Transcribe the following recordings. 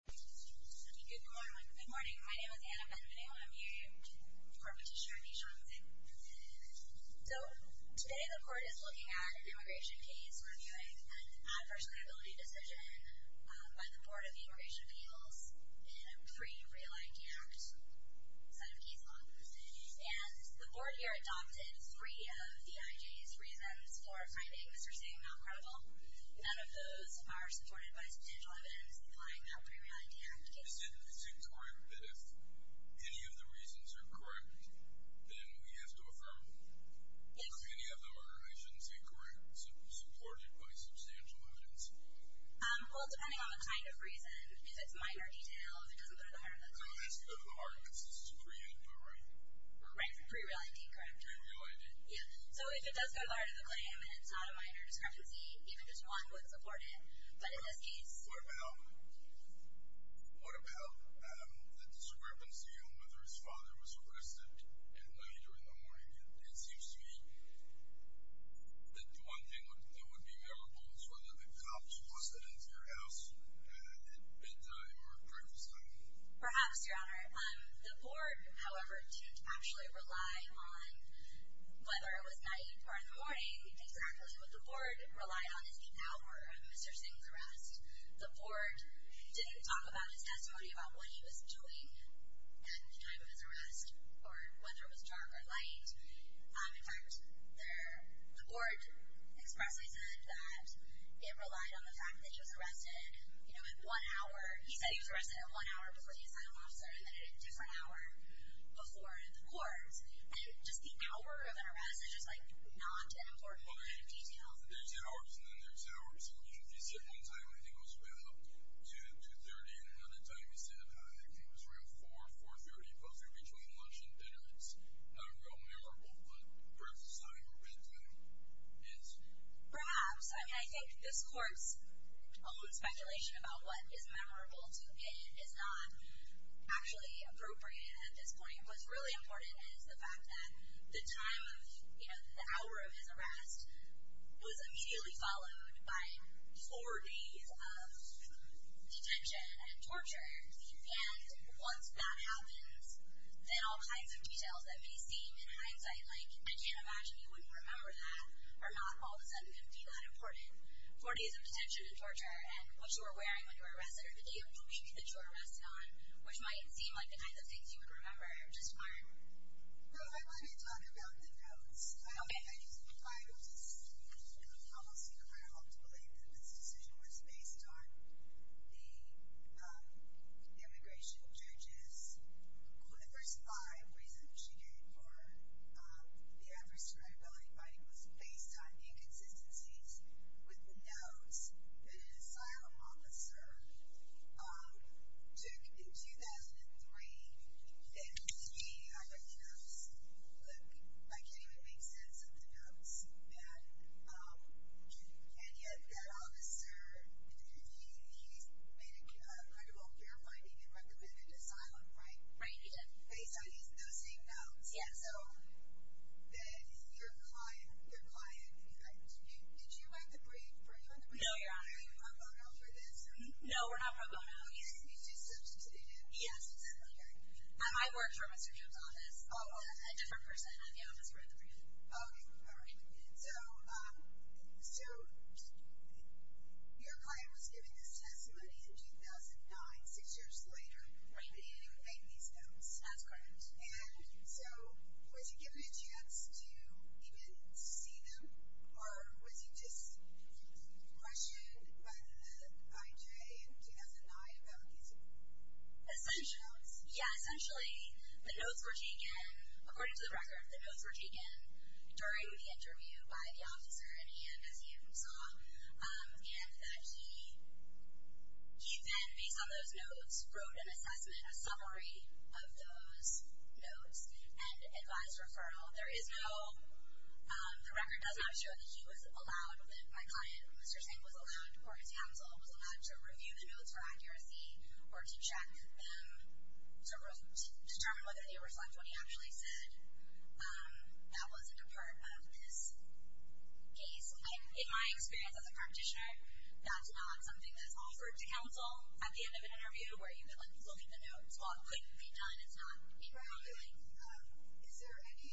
Good morning. My name is Anna Benvenue. I'm here in support of Petitioner Nishan Singh. So, today the Court is looking at an immigration case reviewing an adverse liability decision by the Board of Immigration Appeals in a pre-re-aligned Act set of case law. And the Board here adopted three of the I.G.'s reasons for finding Mr. Singh not credible. None of those are supported by substantial evidence implying a pre-re-aligned Act case. Is it correct that if any of the reasons are correct, then we have to affirm them? Yes. Okay, any of them are, I shouldn't say correct, supported by substantial evidence? Well, depending on the kind of reason, if it's minor details, it doesn't go to the heart of the claim. Oh, it doesn't go to the heart because this is pre-re-aligned, right? Right, pre-re-aligned, incorrect. Pre-re-aligned, incorrect. Yeah. So, if it does go to the heart of the claim and it's not a minor discrepancy, even just one wouldn't support it. But in this case... What about the discrepancy on whether his father was arrested and laid during the morning? It seems to me that the one thing that would be memorable is whether the cops were sent into your house at bedtime or breakfast time. Perhaps, Your Honor. The board, however, didn't actually rely on whether it was night or in the morning. Exactly what the board relied on is the hour of Mr. Singh's arrest. The board didn't talk about his testimony about what he was doing at the time of his arrest or whether it was dark or light. In fact, the board expressly said that it relied on the fact that he was arrested, you know, in one hour. He said he was arrested in one hour before he assigned an officer and then in a different hour before in the courts. And just the hour of an arrest is just, like, not an important line of detail. There's hours and then there's hours. He said one time I think it was about 2, 2.30 and another time he said I think it was around 4, 4.30, closer between lunch and dinner. It's not a real memorable, but breakfast time or bedtime is. Perhaps, I mean, I think this court's own speculation about what is memorable to it is not actually appropriate at this point. What's really important is the fact that the time of, you know, the hour of his arrest was immediately followed by four days of detention and torture. And once that happens, then all kinds of details that may seem in hindsight, like, I can't imagine you wouldn't remember that, are not all of a sudden going to be that important. Four days of detention and torture and what you were wearing when you were arrested, or the gait of clothing that you were arrested on, which might seem like the kind of things you would remember just aren't. I want to talk about the notes. Okay. I used the Bible to support the policy of our hope to believe that this decision was based on the immigration judges. One of the first five reasons she gave for the adverse turn of ability finding was based on inconsistencies with the notes that an asylum officer took in 2003. It made me, like, you know, look, I can't even make sense of the notes. And yet that officer, he made a credible care finding and recommended asylum, right? Right, he did. Based on those same notes. Yeah. So your client, did you write the brief? No, Your Honor. Are you hung up on this? No, we're not hung up. Oh, yes. Did you substitute it? Yes, exactly, Your Honor. I worked for Mr. Jones' office. Oh, okay. A different person at the office wrote the brief. Oh, okay. All right. So your client was given this testimony in 2009, six years later. Right. And he would make these notes. That's correct. And so was he given a chance to even see them, or was he just questioned by the IJA in 2009 about these? Essential notes. Yeah, essentially, the notes were taken, according to the record, the notes were taken during the interview by the officer, and he had an S.E.A. from SAW, and that he then, based on those notes, wrote an assessment, a summary of those notes, and advised referral. There is no, the record does not show that he was allowed, that my client, Mr. Singh, was allowed, or his counsel, was allowed to review the notes for accuracy or to check them to determine whether they reflect what he actually said. That wasn't a part of this case. In my experience as a practitioner, that's not something that's offered to counsel at the end of an interview where you can look at the notes. What could be done is not what people are doing. Is there any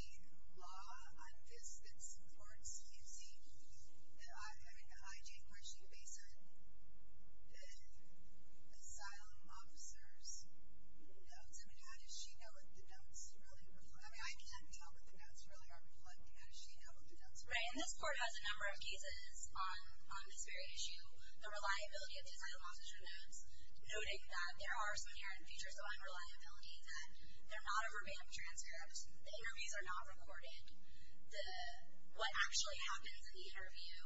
law on this that supports using an IJA question based on the asylum officer's notes? I mean, how does she know what the notes really reflect? I mean, I can't tell, but the notes really are blood. How does she know what the notes reflect? Right, and this court has a number of pieces on this very issue, the reliability of the asylum officer notes, noting that there are some inherent features of unreliability, that they're not a verbatim transcript, the interviews are not recorded, what actually happens in the interview,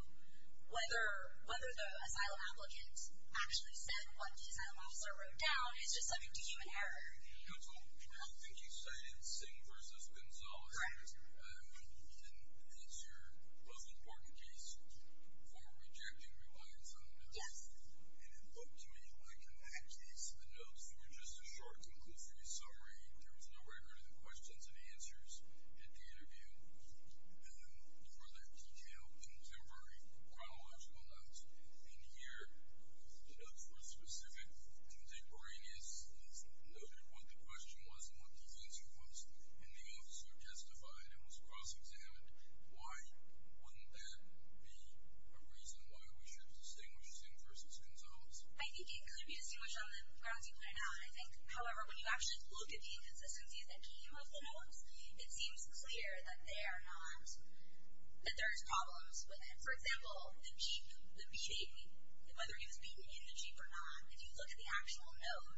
whether the asylum applicant actually said what the asylum officer wrote down is just subject to human error. Counsel, I think you cited Singh versus Gonzales. Correct. And that's your most important case for rejecting reliance on evidence. Yes. And it looked to me like, in that case, the notes were just a short, conclusory summary. There was no record of the questions and answers at the interview. And there were no other detailed contemporary chronological notes. And here, the notes were specific. And they bring as noted what the question was and what the answer was, and the officer testified and was cross-examined. Why wouldn't that be a reason why we should distinguish Singh versus Gonzales? I think it could be distinguished on the grounds you pointed out. I think, however, when you actually look at the inconsistencies that came of the notes, it seems clear that they are not, that there is problems with it. For example, the beating, whether he was beaten in the Jeep or not, if you look at the actual note,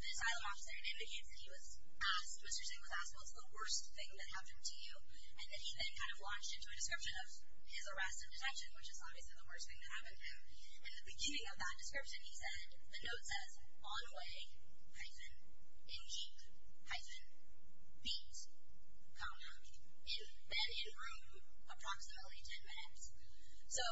the asylum officer, and he was asked, Mr. Singh was asked, what's the worst thing that happened to you? And then he then kind of launched into a description of his arrest and detection, which is obviously the worst thing that happened to him. And at the beginning of that description, he said, the note says, on way, hyphen, in Jeep, hyphen, beat, countdown, in bed, in room, approximately 10 minutes. So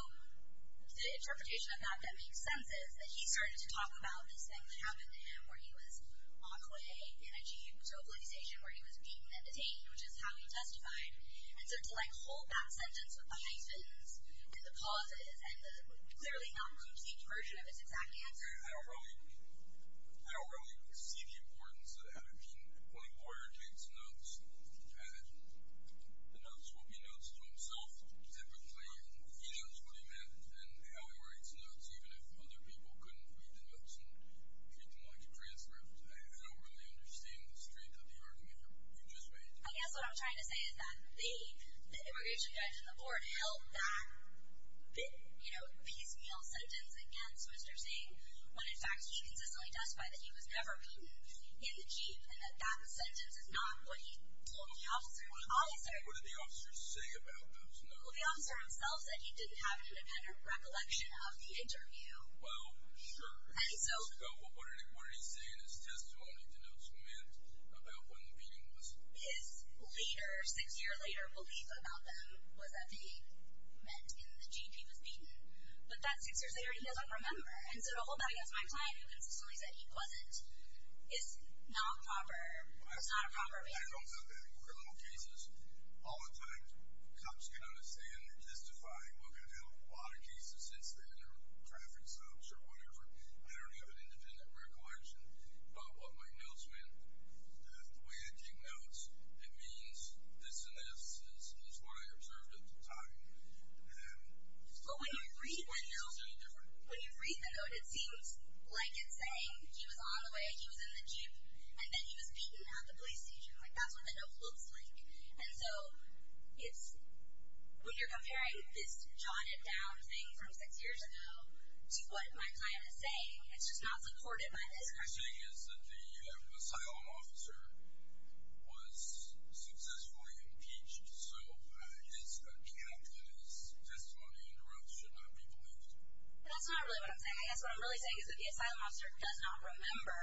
the interpretation of that that makes sense is that he started to talk about this thing that happened to him where he was on his way in a Jeep to a police station where he was beaten and detained, which is how he testified. And so to, like, hold that sentence with the hyphens, with the pauses, and the clearly not complete version of his exact answer. I don't really, I don't really see the importance of that. I mean, when a lawyer takes notes, the notes will be notes to himself. Typically, he knows what he meant. And how he writes notes, even if other people couldn't read the notes and didn't like the transcript. I don't really understand the strength of the argument you just made. I guess what I'm trying to say is that the immigration judge on the board held that piecemeal sentence against Mr. Singh when, in fact, he consistently testified that he was never beaten in the Jeep and that that sentence is not what he told the officer. What did the officer say about those notes? Well, the officer himself said he didn't have an independent recollection of the interview. Well, sure. What did he say in his testimony to those men about when the beating was? His later, six years later, belief about them was that he met in the Jeep he was beaten. But that six years later, he doesn't remember. And so to hold that against my client who consistently said he wasn't is not proper. It's not a proper thing. I don't know that. Criminal cases, all the time, cops can understand. They're testifying. I've had a lot of cases since then. They're traffic stops or whatever. I don't have an independent recollection. But what my notes meant, the way I take notes, it means this and this is what I observed at the time. But when you read the notes, it seems like it's saying he was on the way, he was in the Jeep, and then he was beaten at the police station. That's what the note looks like. And so when you're comparing this jot it down thing from six years ago to what my client is saying, it's just not supported by this record. What you're saying is that the asylum officer was successfully impeached. So it's a cap that his testimony interrupts should not be believed. That's not really what I'm saying. I guess what I'm really saying is that the asylum officer does not remember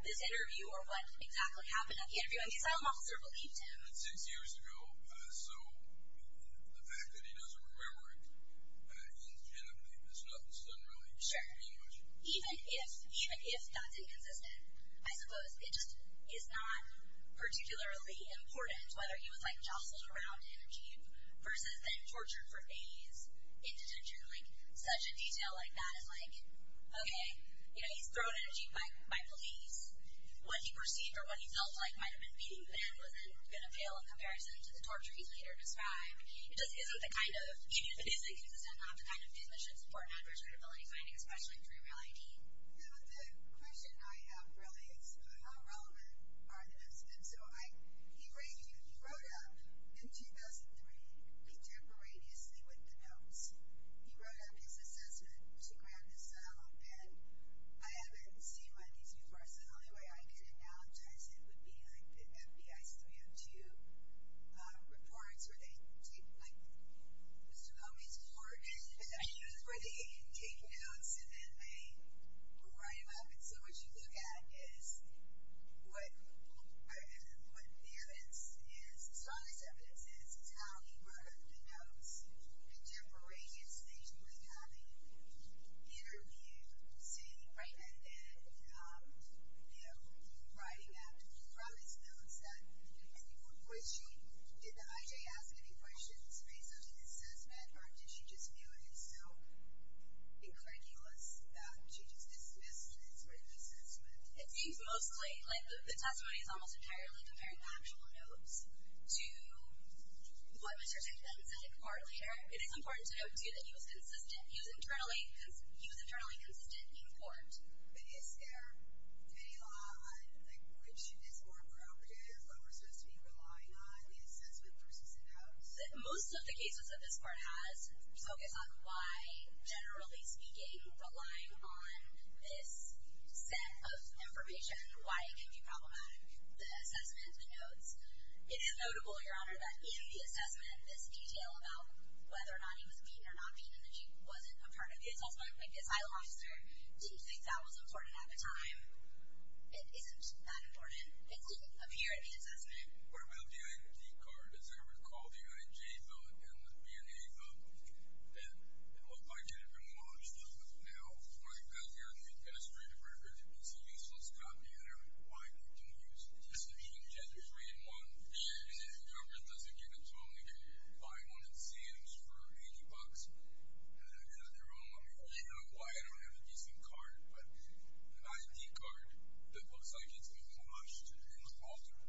this interview or what exactly happened at the interview. The asylum officer believed him. Six years ago. So the fact that he doesn't remember it in genitive, there's nothing to really explain much. Sure. Even if that's inconsistent, I suppose it just is not particularly important whether he was jostled around in a Jeep versus being tortured for days in detention. Such a detail like that is like, okay, he's thrown in a Jeep by police. What he perceived or what he felt like might have been beating him wasn't going to fail in comparison to the torture he's later described. It just isn't the kind of, even if it is inconsistent, not the kind of thing that should support an adverse credibility finding, especially through REAL ID. No, the question I have really is how relevant are the notes? And so he wrote up in 2003 contemporaneously with the notes. He wrote up his assessment, which he grabbed his cell phone, and I haven't seen one of these before, so the only way I can analogize it would be like the FBI's 302 reports where they take, like Mr. Comey's report, where they take notes and then they write them up. And so what you look at is what the evidence is, the strongest evidence is how he wrote up the notes contemporaneously with having interviewed, seen, written, and, you know, writing from his notes. Did the I.J. ask any questions based on his assessment, or did she just feel it is so incredulous that she just dismissed his written assessment? It seems mostly like the testimony is almost entirely comparing the actual notes to what Mr. Comey said a part later. It is important to note, too, that he was internally consistent in court. But is there any law on which is more appropriate or what we're supposed to be relying on, the assessment versus the notes? Most of the cases that this court has focus on why, generally speaking, relying on this set of information, why it can be problematic. But in the assessment, this detail about whether or not he was beaten or not beaten and that he wasn't a part of the assessment, like the asylum officer, do you think that was important at the time? It isn't that important. It didn't appear in the assessment. What about the I.D. card? Does it ever call the I.N.J. vote and the B.N.A. vote? It looked like it had been launched. Does it now? Well, you've got your administrative records. It's a useless copy. I don't know why you couldn't use it. You can get a 3-in-1, and the government doesn't give it to them. You can buy one at Sam's for 80 bucks and have it at your home. I mean, I don't know why I don't have a decent card, but an I.D. card that looks like it's been launched in the falter,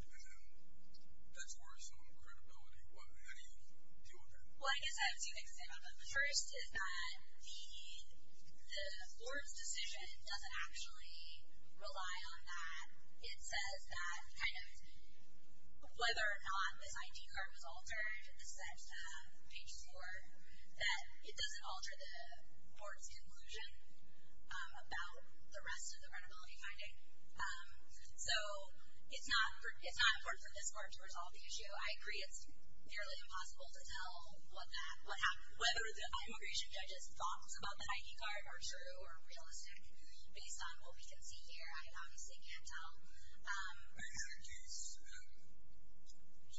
that's worse on credibility. How do you deal with that? Well, I guess I have two things to say about that. The first is that the court's decision doesn't actually rely on that. It says that kind of whether or not this I.D. card was altered, it's set to have pages 4, that it doesn't alter the court's conclusion about the rest of the credibility finding. So it's not important for this court to resolve the issue. I agree it's nearly impossible to tell what happened, whether the immigration judge's thoughts about the I.D. card are true or realistic based on what we can see here. I had a case 15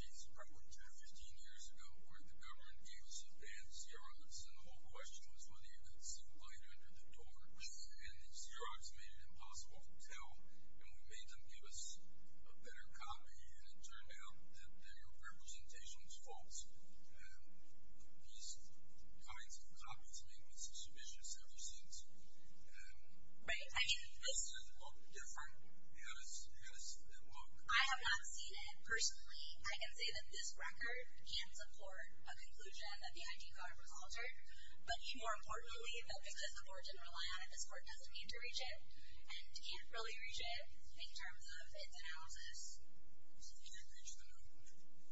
years ago where the government gave us advanced Xerox and the whole question was whether you could see light under the torch. And the Xerox made it impossible to tell, and we made them give us a better copy, and it turned out that their representation was false. These kinds of copies have made me suspicious ever since. This doesn't look different. Yes, it looks different. I have not seen it. Personally, I can say that this record can support a conclusion that the I.D. card was altered, but more importantly, because the court didn't rely on it, this court doesn't need to reach it and can't really reach it in terms of its analysis.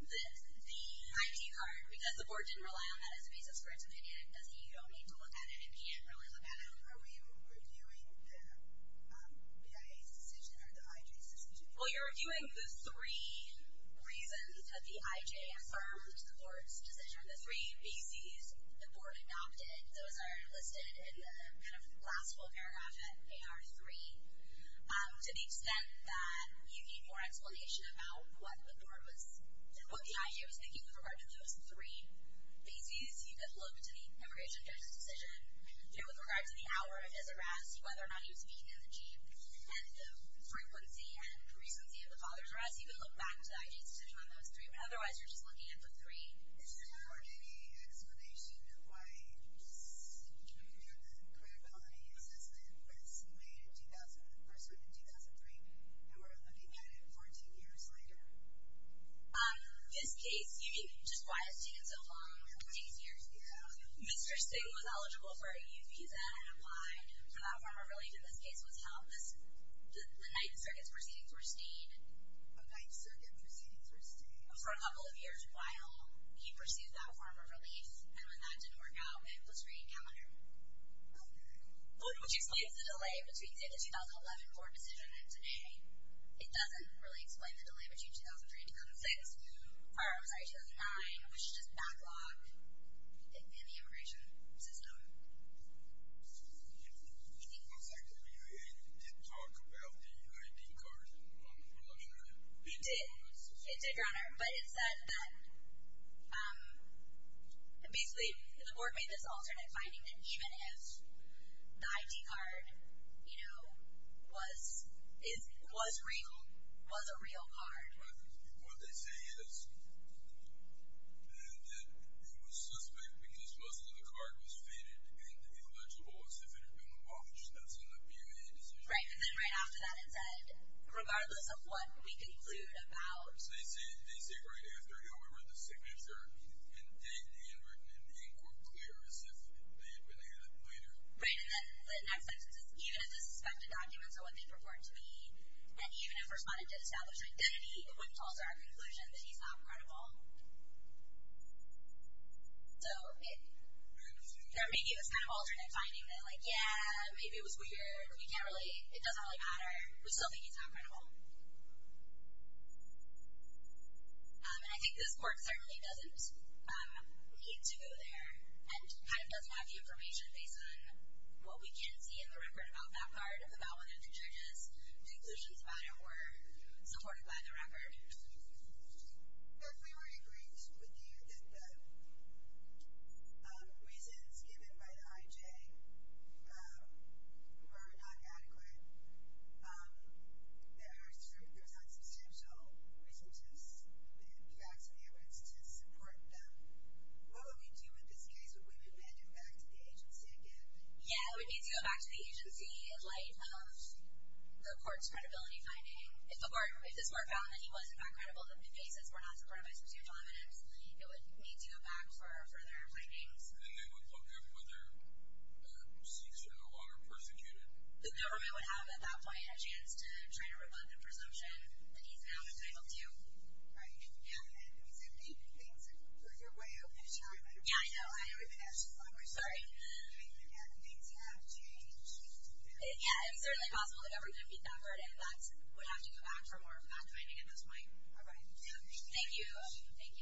The I.D. card, because the court didn't rely on that as a piece of its opinion, doesn't mean you don't need to look at it. It can't really look at it. Are we reviewing the BIA's decision or the I.J.'s decision? Well, you're reviewing the three reasons that the I.J. affirmed the court's decision, the three B.C.'s the court adopted. Those are listed in the kind of last full paragraph at AR3. I was thinking with regard to those three B.C.'s, you could look to the immigration judge's decision. With regard to the hour of his arrest, whether or not he was being in the jeep, and the frequency and recency of the father's arrest, you could look back to the I.J.'s decision on those three. But otherwise, you're just looking at the three. Is there any explanation of why the credibility assisted with the person in 2003 who we're looking at it 14 years later? This case, just why it's taken so long, it takes years because Mr. Sue was eligible for a U.P. that had applied for that form of relief. In this case, what's held is the Ninth Circuit's proceedings were stayed for a couple of years while he pursued that form of relief, and when that didn't work out, it was re-encountered. Which explains the delay between, say, the 2011 court decision and today. It doesn't really explain the delay between 2003 and 2006. Or, I'm sorry, 2009, which just backlogged in the immigration system. It looks like the UA did talk about the U.I.D. card. It did. It did, Your Honor. But it said that, basically, the board made this alternate finding that even if the I.D. card, you know, was real, was a real card. Right. What they say is that it was suspect because most of the card was faded and illegible as if it had been abolished. That's in the PMA decision. Right. And then right after that it said, regardless of what we conclude about... They say right after, you know, we read the signature and the handwritten ink were clear as if they had been added later. Right. And then the next sentence is, even if the suspected documents are what they purport to be, and even if Respondent did establish identity, the whip calls are our conclusion that he's not credible. So it... They're making this kind of alternate finding that, like, yeah, maybe it was weird. We can't really... It doesn't really matter. We still think he's not credible. And I think this Court certainly doesn't need to go there and kind of doesn't have the information based on what we can see in the record about that card, about whether the judges' conclusions about it were supported by the record. If we were to agree with you that the reasons given by the I.J. were not adequate, there's not substantial resources, facts and evidence to support them, what would we do in this case? Would we be manding back to the agency again? Yeah, we'd need to go back to the agency in light of the Court's credibility finding. If this Court found that he was, in fact, credible, then if he says we're not supported by specific evidence, it would need to go back for further findings. And then they would look at whether the CCO are persecuted. The government would have, at that point, a chance to try to rebut the presumption that he's not a Title II. Right, yeah. And he's updated things further away over time. Yeah, I know. I know we've been at this for a long time. I'm sorry. I mean, things have changed. Yeah, it's certainly possible that everything would be backward and facts would have to go back for more fact-finding at this point. All right. Thank you. Thank you. Thank you. Before we continue our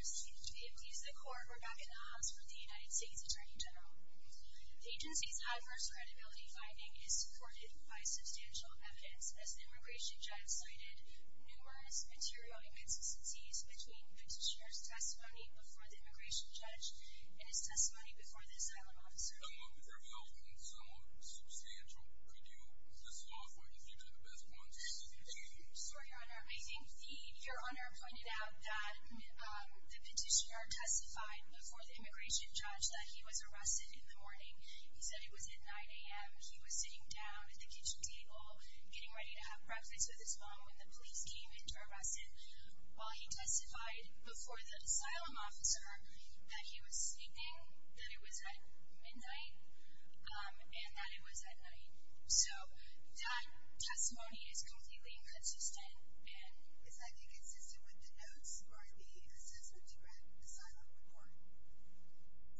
discussion today, please, the Court, we're back in the house with the United States Attorney General. The agency's adverse credibility finding is supported by substantial evidence. As the Immigration Judge cited, numerous material inconsistencies between the petitioner's testimony before the Immigration Judge and his testimony before the Asylum Officer. There have been some substantial. Could you list off what you think are the best points you've seen? Sure, Your Honor. I think Your Honor pointed out that the petitioner testified before the Immigration Judge that he was arrested in the morning. He said it was at 9 a.m. He was sitting down at the kitchen table getting ready to have breakfast with his mom when the police came in to arrest him. While he testified before the Asylum Officer that he was sleeping, that it was at midnight, and that it was at night. So that testimony is completely inconsistent. Is that inconsistent with the notes or the assessment you read aside from the report?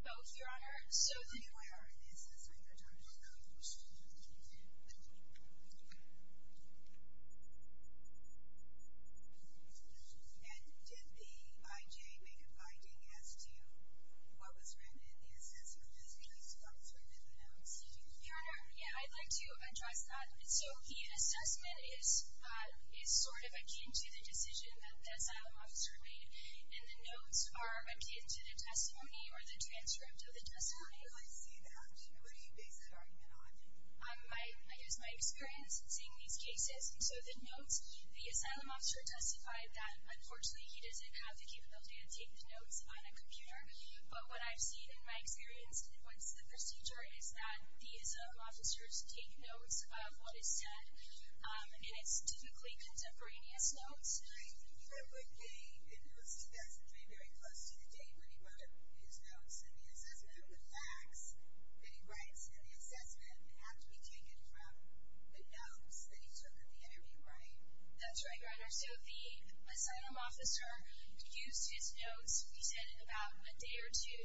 Both, Your Honor. So you are in the assessment, you're talking about the report. Yes. And did the IJ make a finding as to what was written in the assessment as opposed to what was written in the notes? Your Honor, yeah, I'd like to address that. So the assessment is sort of akin to the decision that the Asylum Officer made, and the notes are akin to the testimony or the transcript of the testimony. I see that. What do you base the argument on? I use my experience in seeing these cases. So the notes, the Asylum Officer testified that, unfortunately, he doesn't have the capability of taking notes on a computer. But what I've seen in my experience and what's the procedure is that the Asylum Officers take notes of what is said, and it's typically contemporaneous notes. I think it would be, in 2003, very close to the date when he wrote his notes and the assessment of the facts that he writes in the assessment have to be taken from the notes that he took at the interview, right? That's right, Your Honor. So the Asylum Officer used his notes, we said, about a day or two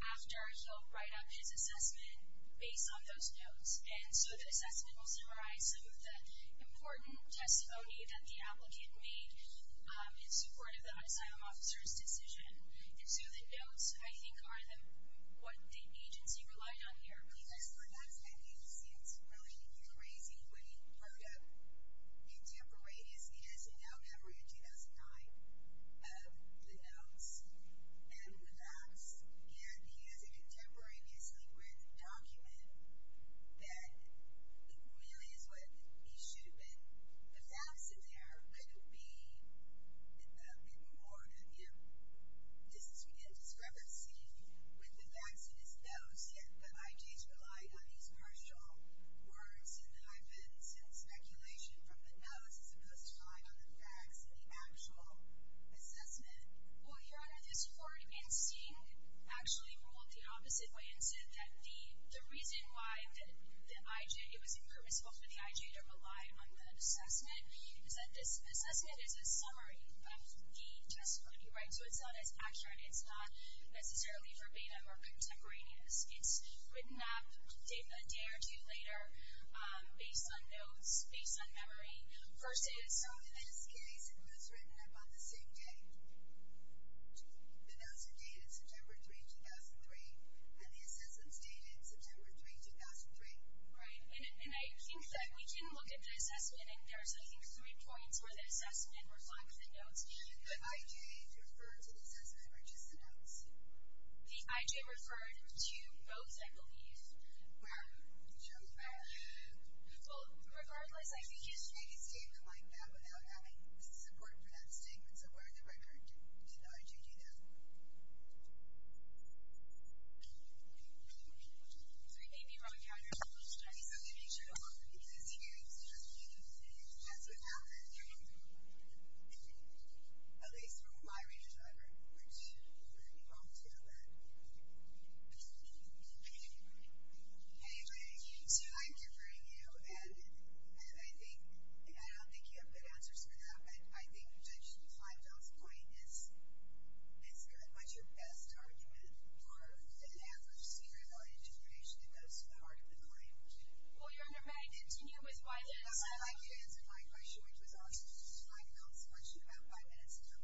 after he'll write up his assessment based on those notes. And so the assessment will summarize some of the important testimony that the applicant made in support of the Asylum Officer's decision. And so the notes, I think, are what the agency relied on here. Because for that time he seems really crazy when he wrote up contemporaneous, he has a note every 2009 of the notes and the facts, and he has a contemporaneously written document that really is what he should have been. The facts in there could be a bit more, you know, discrepancy with the facts in his notes, yet the IJs relied on these partial words and hyphens and speculation from the notes as opposed to relying on the facts in the actual assessment. Well, Your Honor, this court in seeing actually ruled the opposite way and said that the reason why the IJ, it was impermissible for the IJ to rely on the assessment is that this assessment is a summary of the testimony, right? So it's not as accurate, it's not necessarily verbatim or contemporaneous. It's written up a day or two later based on notes, based on memory. So in this case, it was written up on the same day. The notes are dated September 3, 2003, and the assessments dated September 3, 2003. Right, and I think that we can look at the assessment, and there's, I think, three points where the assessment reflects the notes. Did the IJ refer to the assessment or just the notes? The IJ referred to both, I believe. Where? Well, regardless, I think you should make a statement like that without having support for that statement. So where in the record did the IJ do that? Okay. So you may be wrong on your assumption, but at least I'm going to make sure to look at the existing evidence and see if that's what happened. At least from my range of driver, which you all know that. Anyway, so I'm deferring you, and I don't think you have a good answer to that, but I think Judge Kleinfeld's point is good. What's your best argument for an average CRM integration that goes to the heart of the claim? Well, Your Honor, may I continue with my answer? Yes, I'd like you to answer my question, which was also Judge Kleinfeld's question about five minutes ago.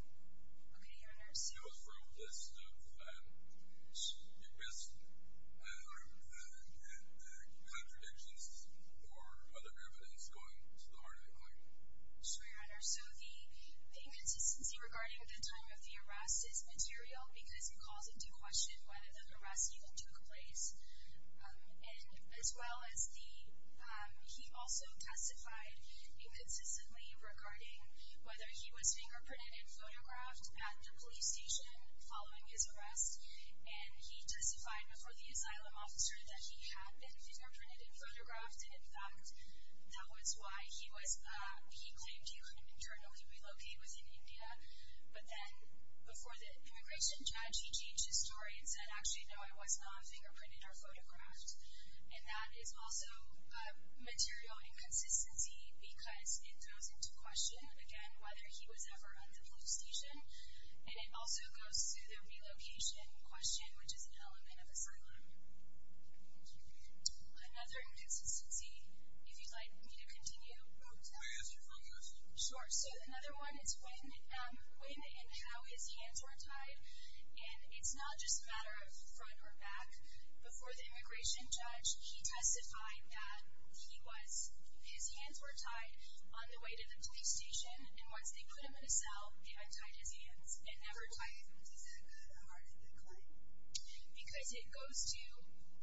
Okay, Your Honor. It was from a list of the best contradictions or other evidence going to the heart of the claim. Sure, Your Honor. So the inconsistency regarding the time of the arrest is material because it calls into question whether the arrest even took place. And as well as the he also testified inconsistently regarding whether he was fingerprinted and photographed at the police station following his arrest. And he testified before the asylum officer that he had been fingerprinted and photographed, and, in fact, that was why he claimed he couldn't internally relocate within India. But then before the immigration judge, he changed his story and said, actually, no, I was not fingerprinted or photographed. And that is also material inconsistency because it goes into question, again, whether he was ever at the police station, and it also goes through the relocation question, which is an element of asylum. Another inconsistency, if you'd like me to continue. Can I ask you one more question? Sure. So another one is when and how his hands were tied. And it's not just a matter of front or back. Before the immigration judge, he testified that his hands were tied on the way to the police station, and once they put him in a cell, they untied his hands and never tied them again. Why is that a part of the claim? Because it goes to,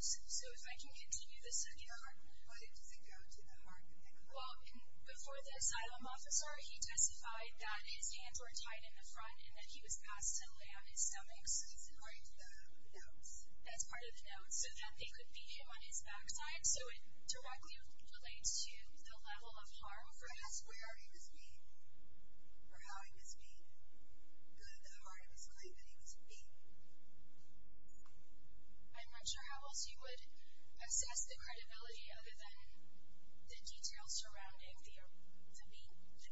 so if I can continue the second part. Why does it go to the heart? Well, before the asylum officer, he testified that his hands were tied in the front and that he was asked to lay on his stomach. So that's part of the notes. That's part of the notes, so that they could be him on his backside, so it directly relates to the level of harm. Well, for us, where he was beaten or how he was beaten, the heart of us believe that he was beaten. I'm not sure how else you would assess the credibility other than the details surrounding the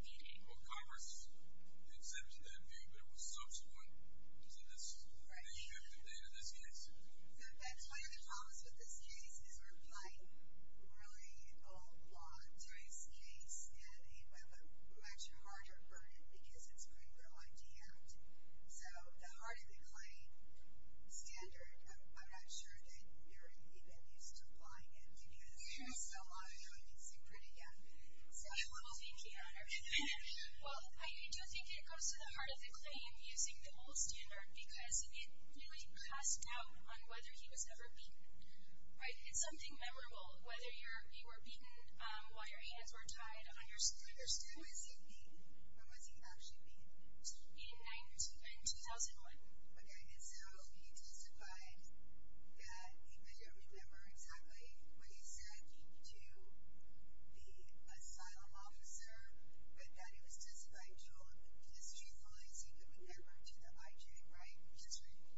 beating. Well, Congress exempted that view, but it was subsequent. So that's the objective there in this case. One of the problems with this case is we're applying really old law to this case, and we have a much harder burden because it's going to go un-damped. So the heart of the claim standard, I'm not sure that you're even used to applying it because there's still a lot of time you'd see pretty young people. Well, thank you, Honor. Well, I do think it goes to the heart of the claim using the old standard because it really casts doubt on whether he was ever beaten, right? It's something memorable, whether he were beaten while your hands were tied on your shoulders. When was he beaten? When was he actually beaten? In 2001. Okay, and so he testified that he couldn't remember exactly what he said to the asylum officer, but that it was just vital to his truthfulness he could remember to the IJ, right? Yes, ma'am.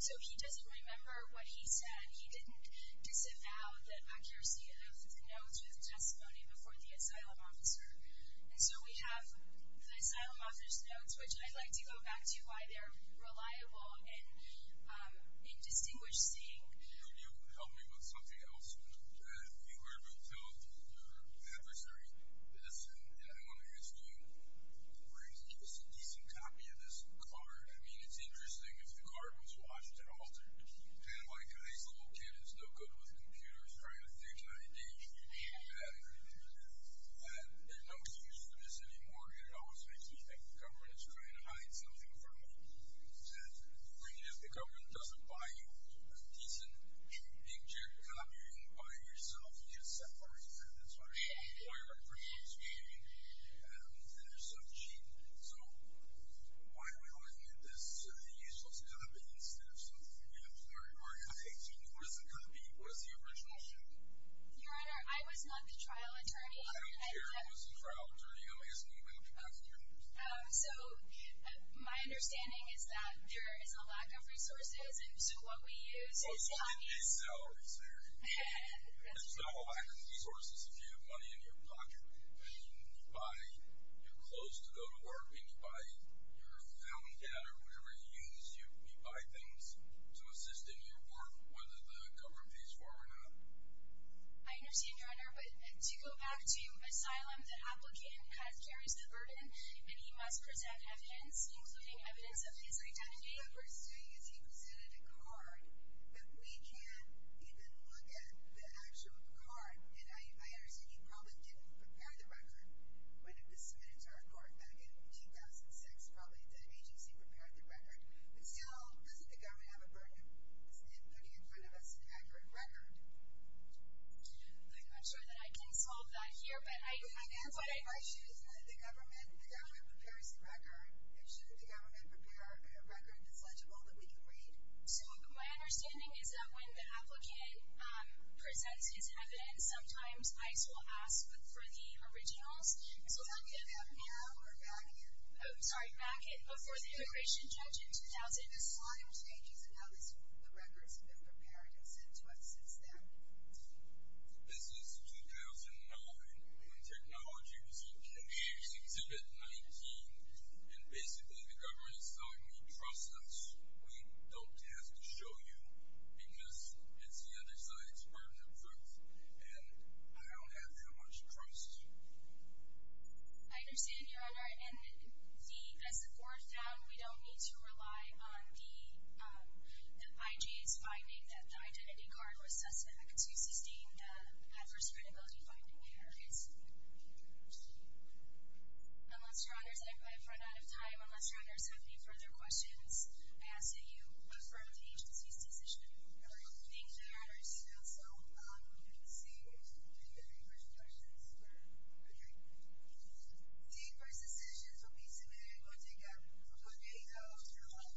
So he doesn't remember what he said. He didn't disavow the accuracy of the notes or the testimony before the asylum officer. And so we have the asylum officer's notes, which I'd like to go back to why they're reliable in distinguished seeing. If you could help me with something else, I think we're going to tell your adversary this, and I want to ask you where he gets a decent copy of this card. I mean, it's interesting. If the card was watched and altered, and like a high school kid who's no good with computers trying to think how to engage people, and there's no excuse for this anymore, and it always makes me think the government is trying to hide something from you, and if the government doesn't buy you a decent inkjet copy, you can buy it yourself. You just separate them. That's what I'm saying. The employer appreciates you, and there's some cheating. So why do we always get this useless copy instead of something your employer or your IJ told you wasn't going to be, was the original copy? Your Honor, I was not the trial attorney. I don't care who was the trial attorney. I'll make us an e-mail to pass on your notes. So my understanding is that there is a lack of resources, and so what we use is copies. There's no lack of resources if you have money in your pocket. You can buy your clothes to go to work. You can buy your fountain pen or whatever you use. You buy things to assist in your work, whether the government pays for it or not. I understand, Your Honor, but to go back to asylum, the applicant carries the burden, and he must present evidence, including evidence of his identity. My understanding is he presented a card, but we can't even look at the actual card. And I understand he probably didn't prepare the record when it was submitted to our court back in 2006. Probably the agency prepared the record. But still, doesn't the government have a burden? Isn't it putting in front of us an accurate record? I'm sure that I can solve that here. My answer to my issue is that the government prepares the record, and shouldn't the government prepare a record that's legible that we can read? So my understanding is that when the applicant presents his evidence, sometimes ICE will ask for the originals. Does that mean they have an error or a bracket? Oh, sorry, bracket before the immigration judge in 2006. There's a lot of changes in how the records have been prepared and sent to us since then. This is 2009 when technology was introduced in exhibit 19, and basically the government is telling me, trust us, we don't have to show you because it's the other side's burden of proof, and I don't have that much trust. I understand, Your Honor, and as the court found, we don't need to rely on the IG's finding that the identity card was suspect. So you sustained adverse credibility finding there. Unless, Your Honors, I've run out of time. Unless, Your Honors, you have any further questions, I ask that you affirm the agency's decision. All right. Thank you, Your Honors. So we're going to see if there are any further questions. All right. State vs. Citizens will be submitted in court tomorrow. Court may close. Court is adjourned. State vs. Citizens.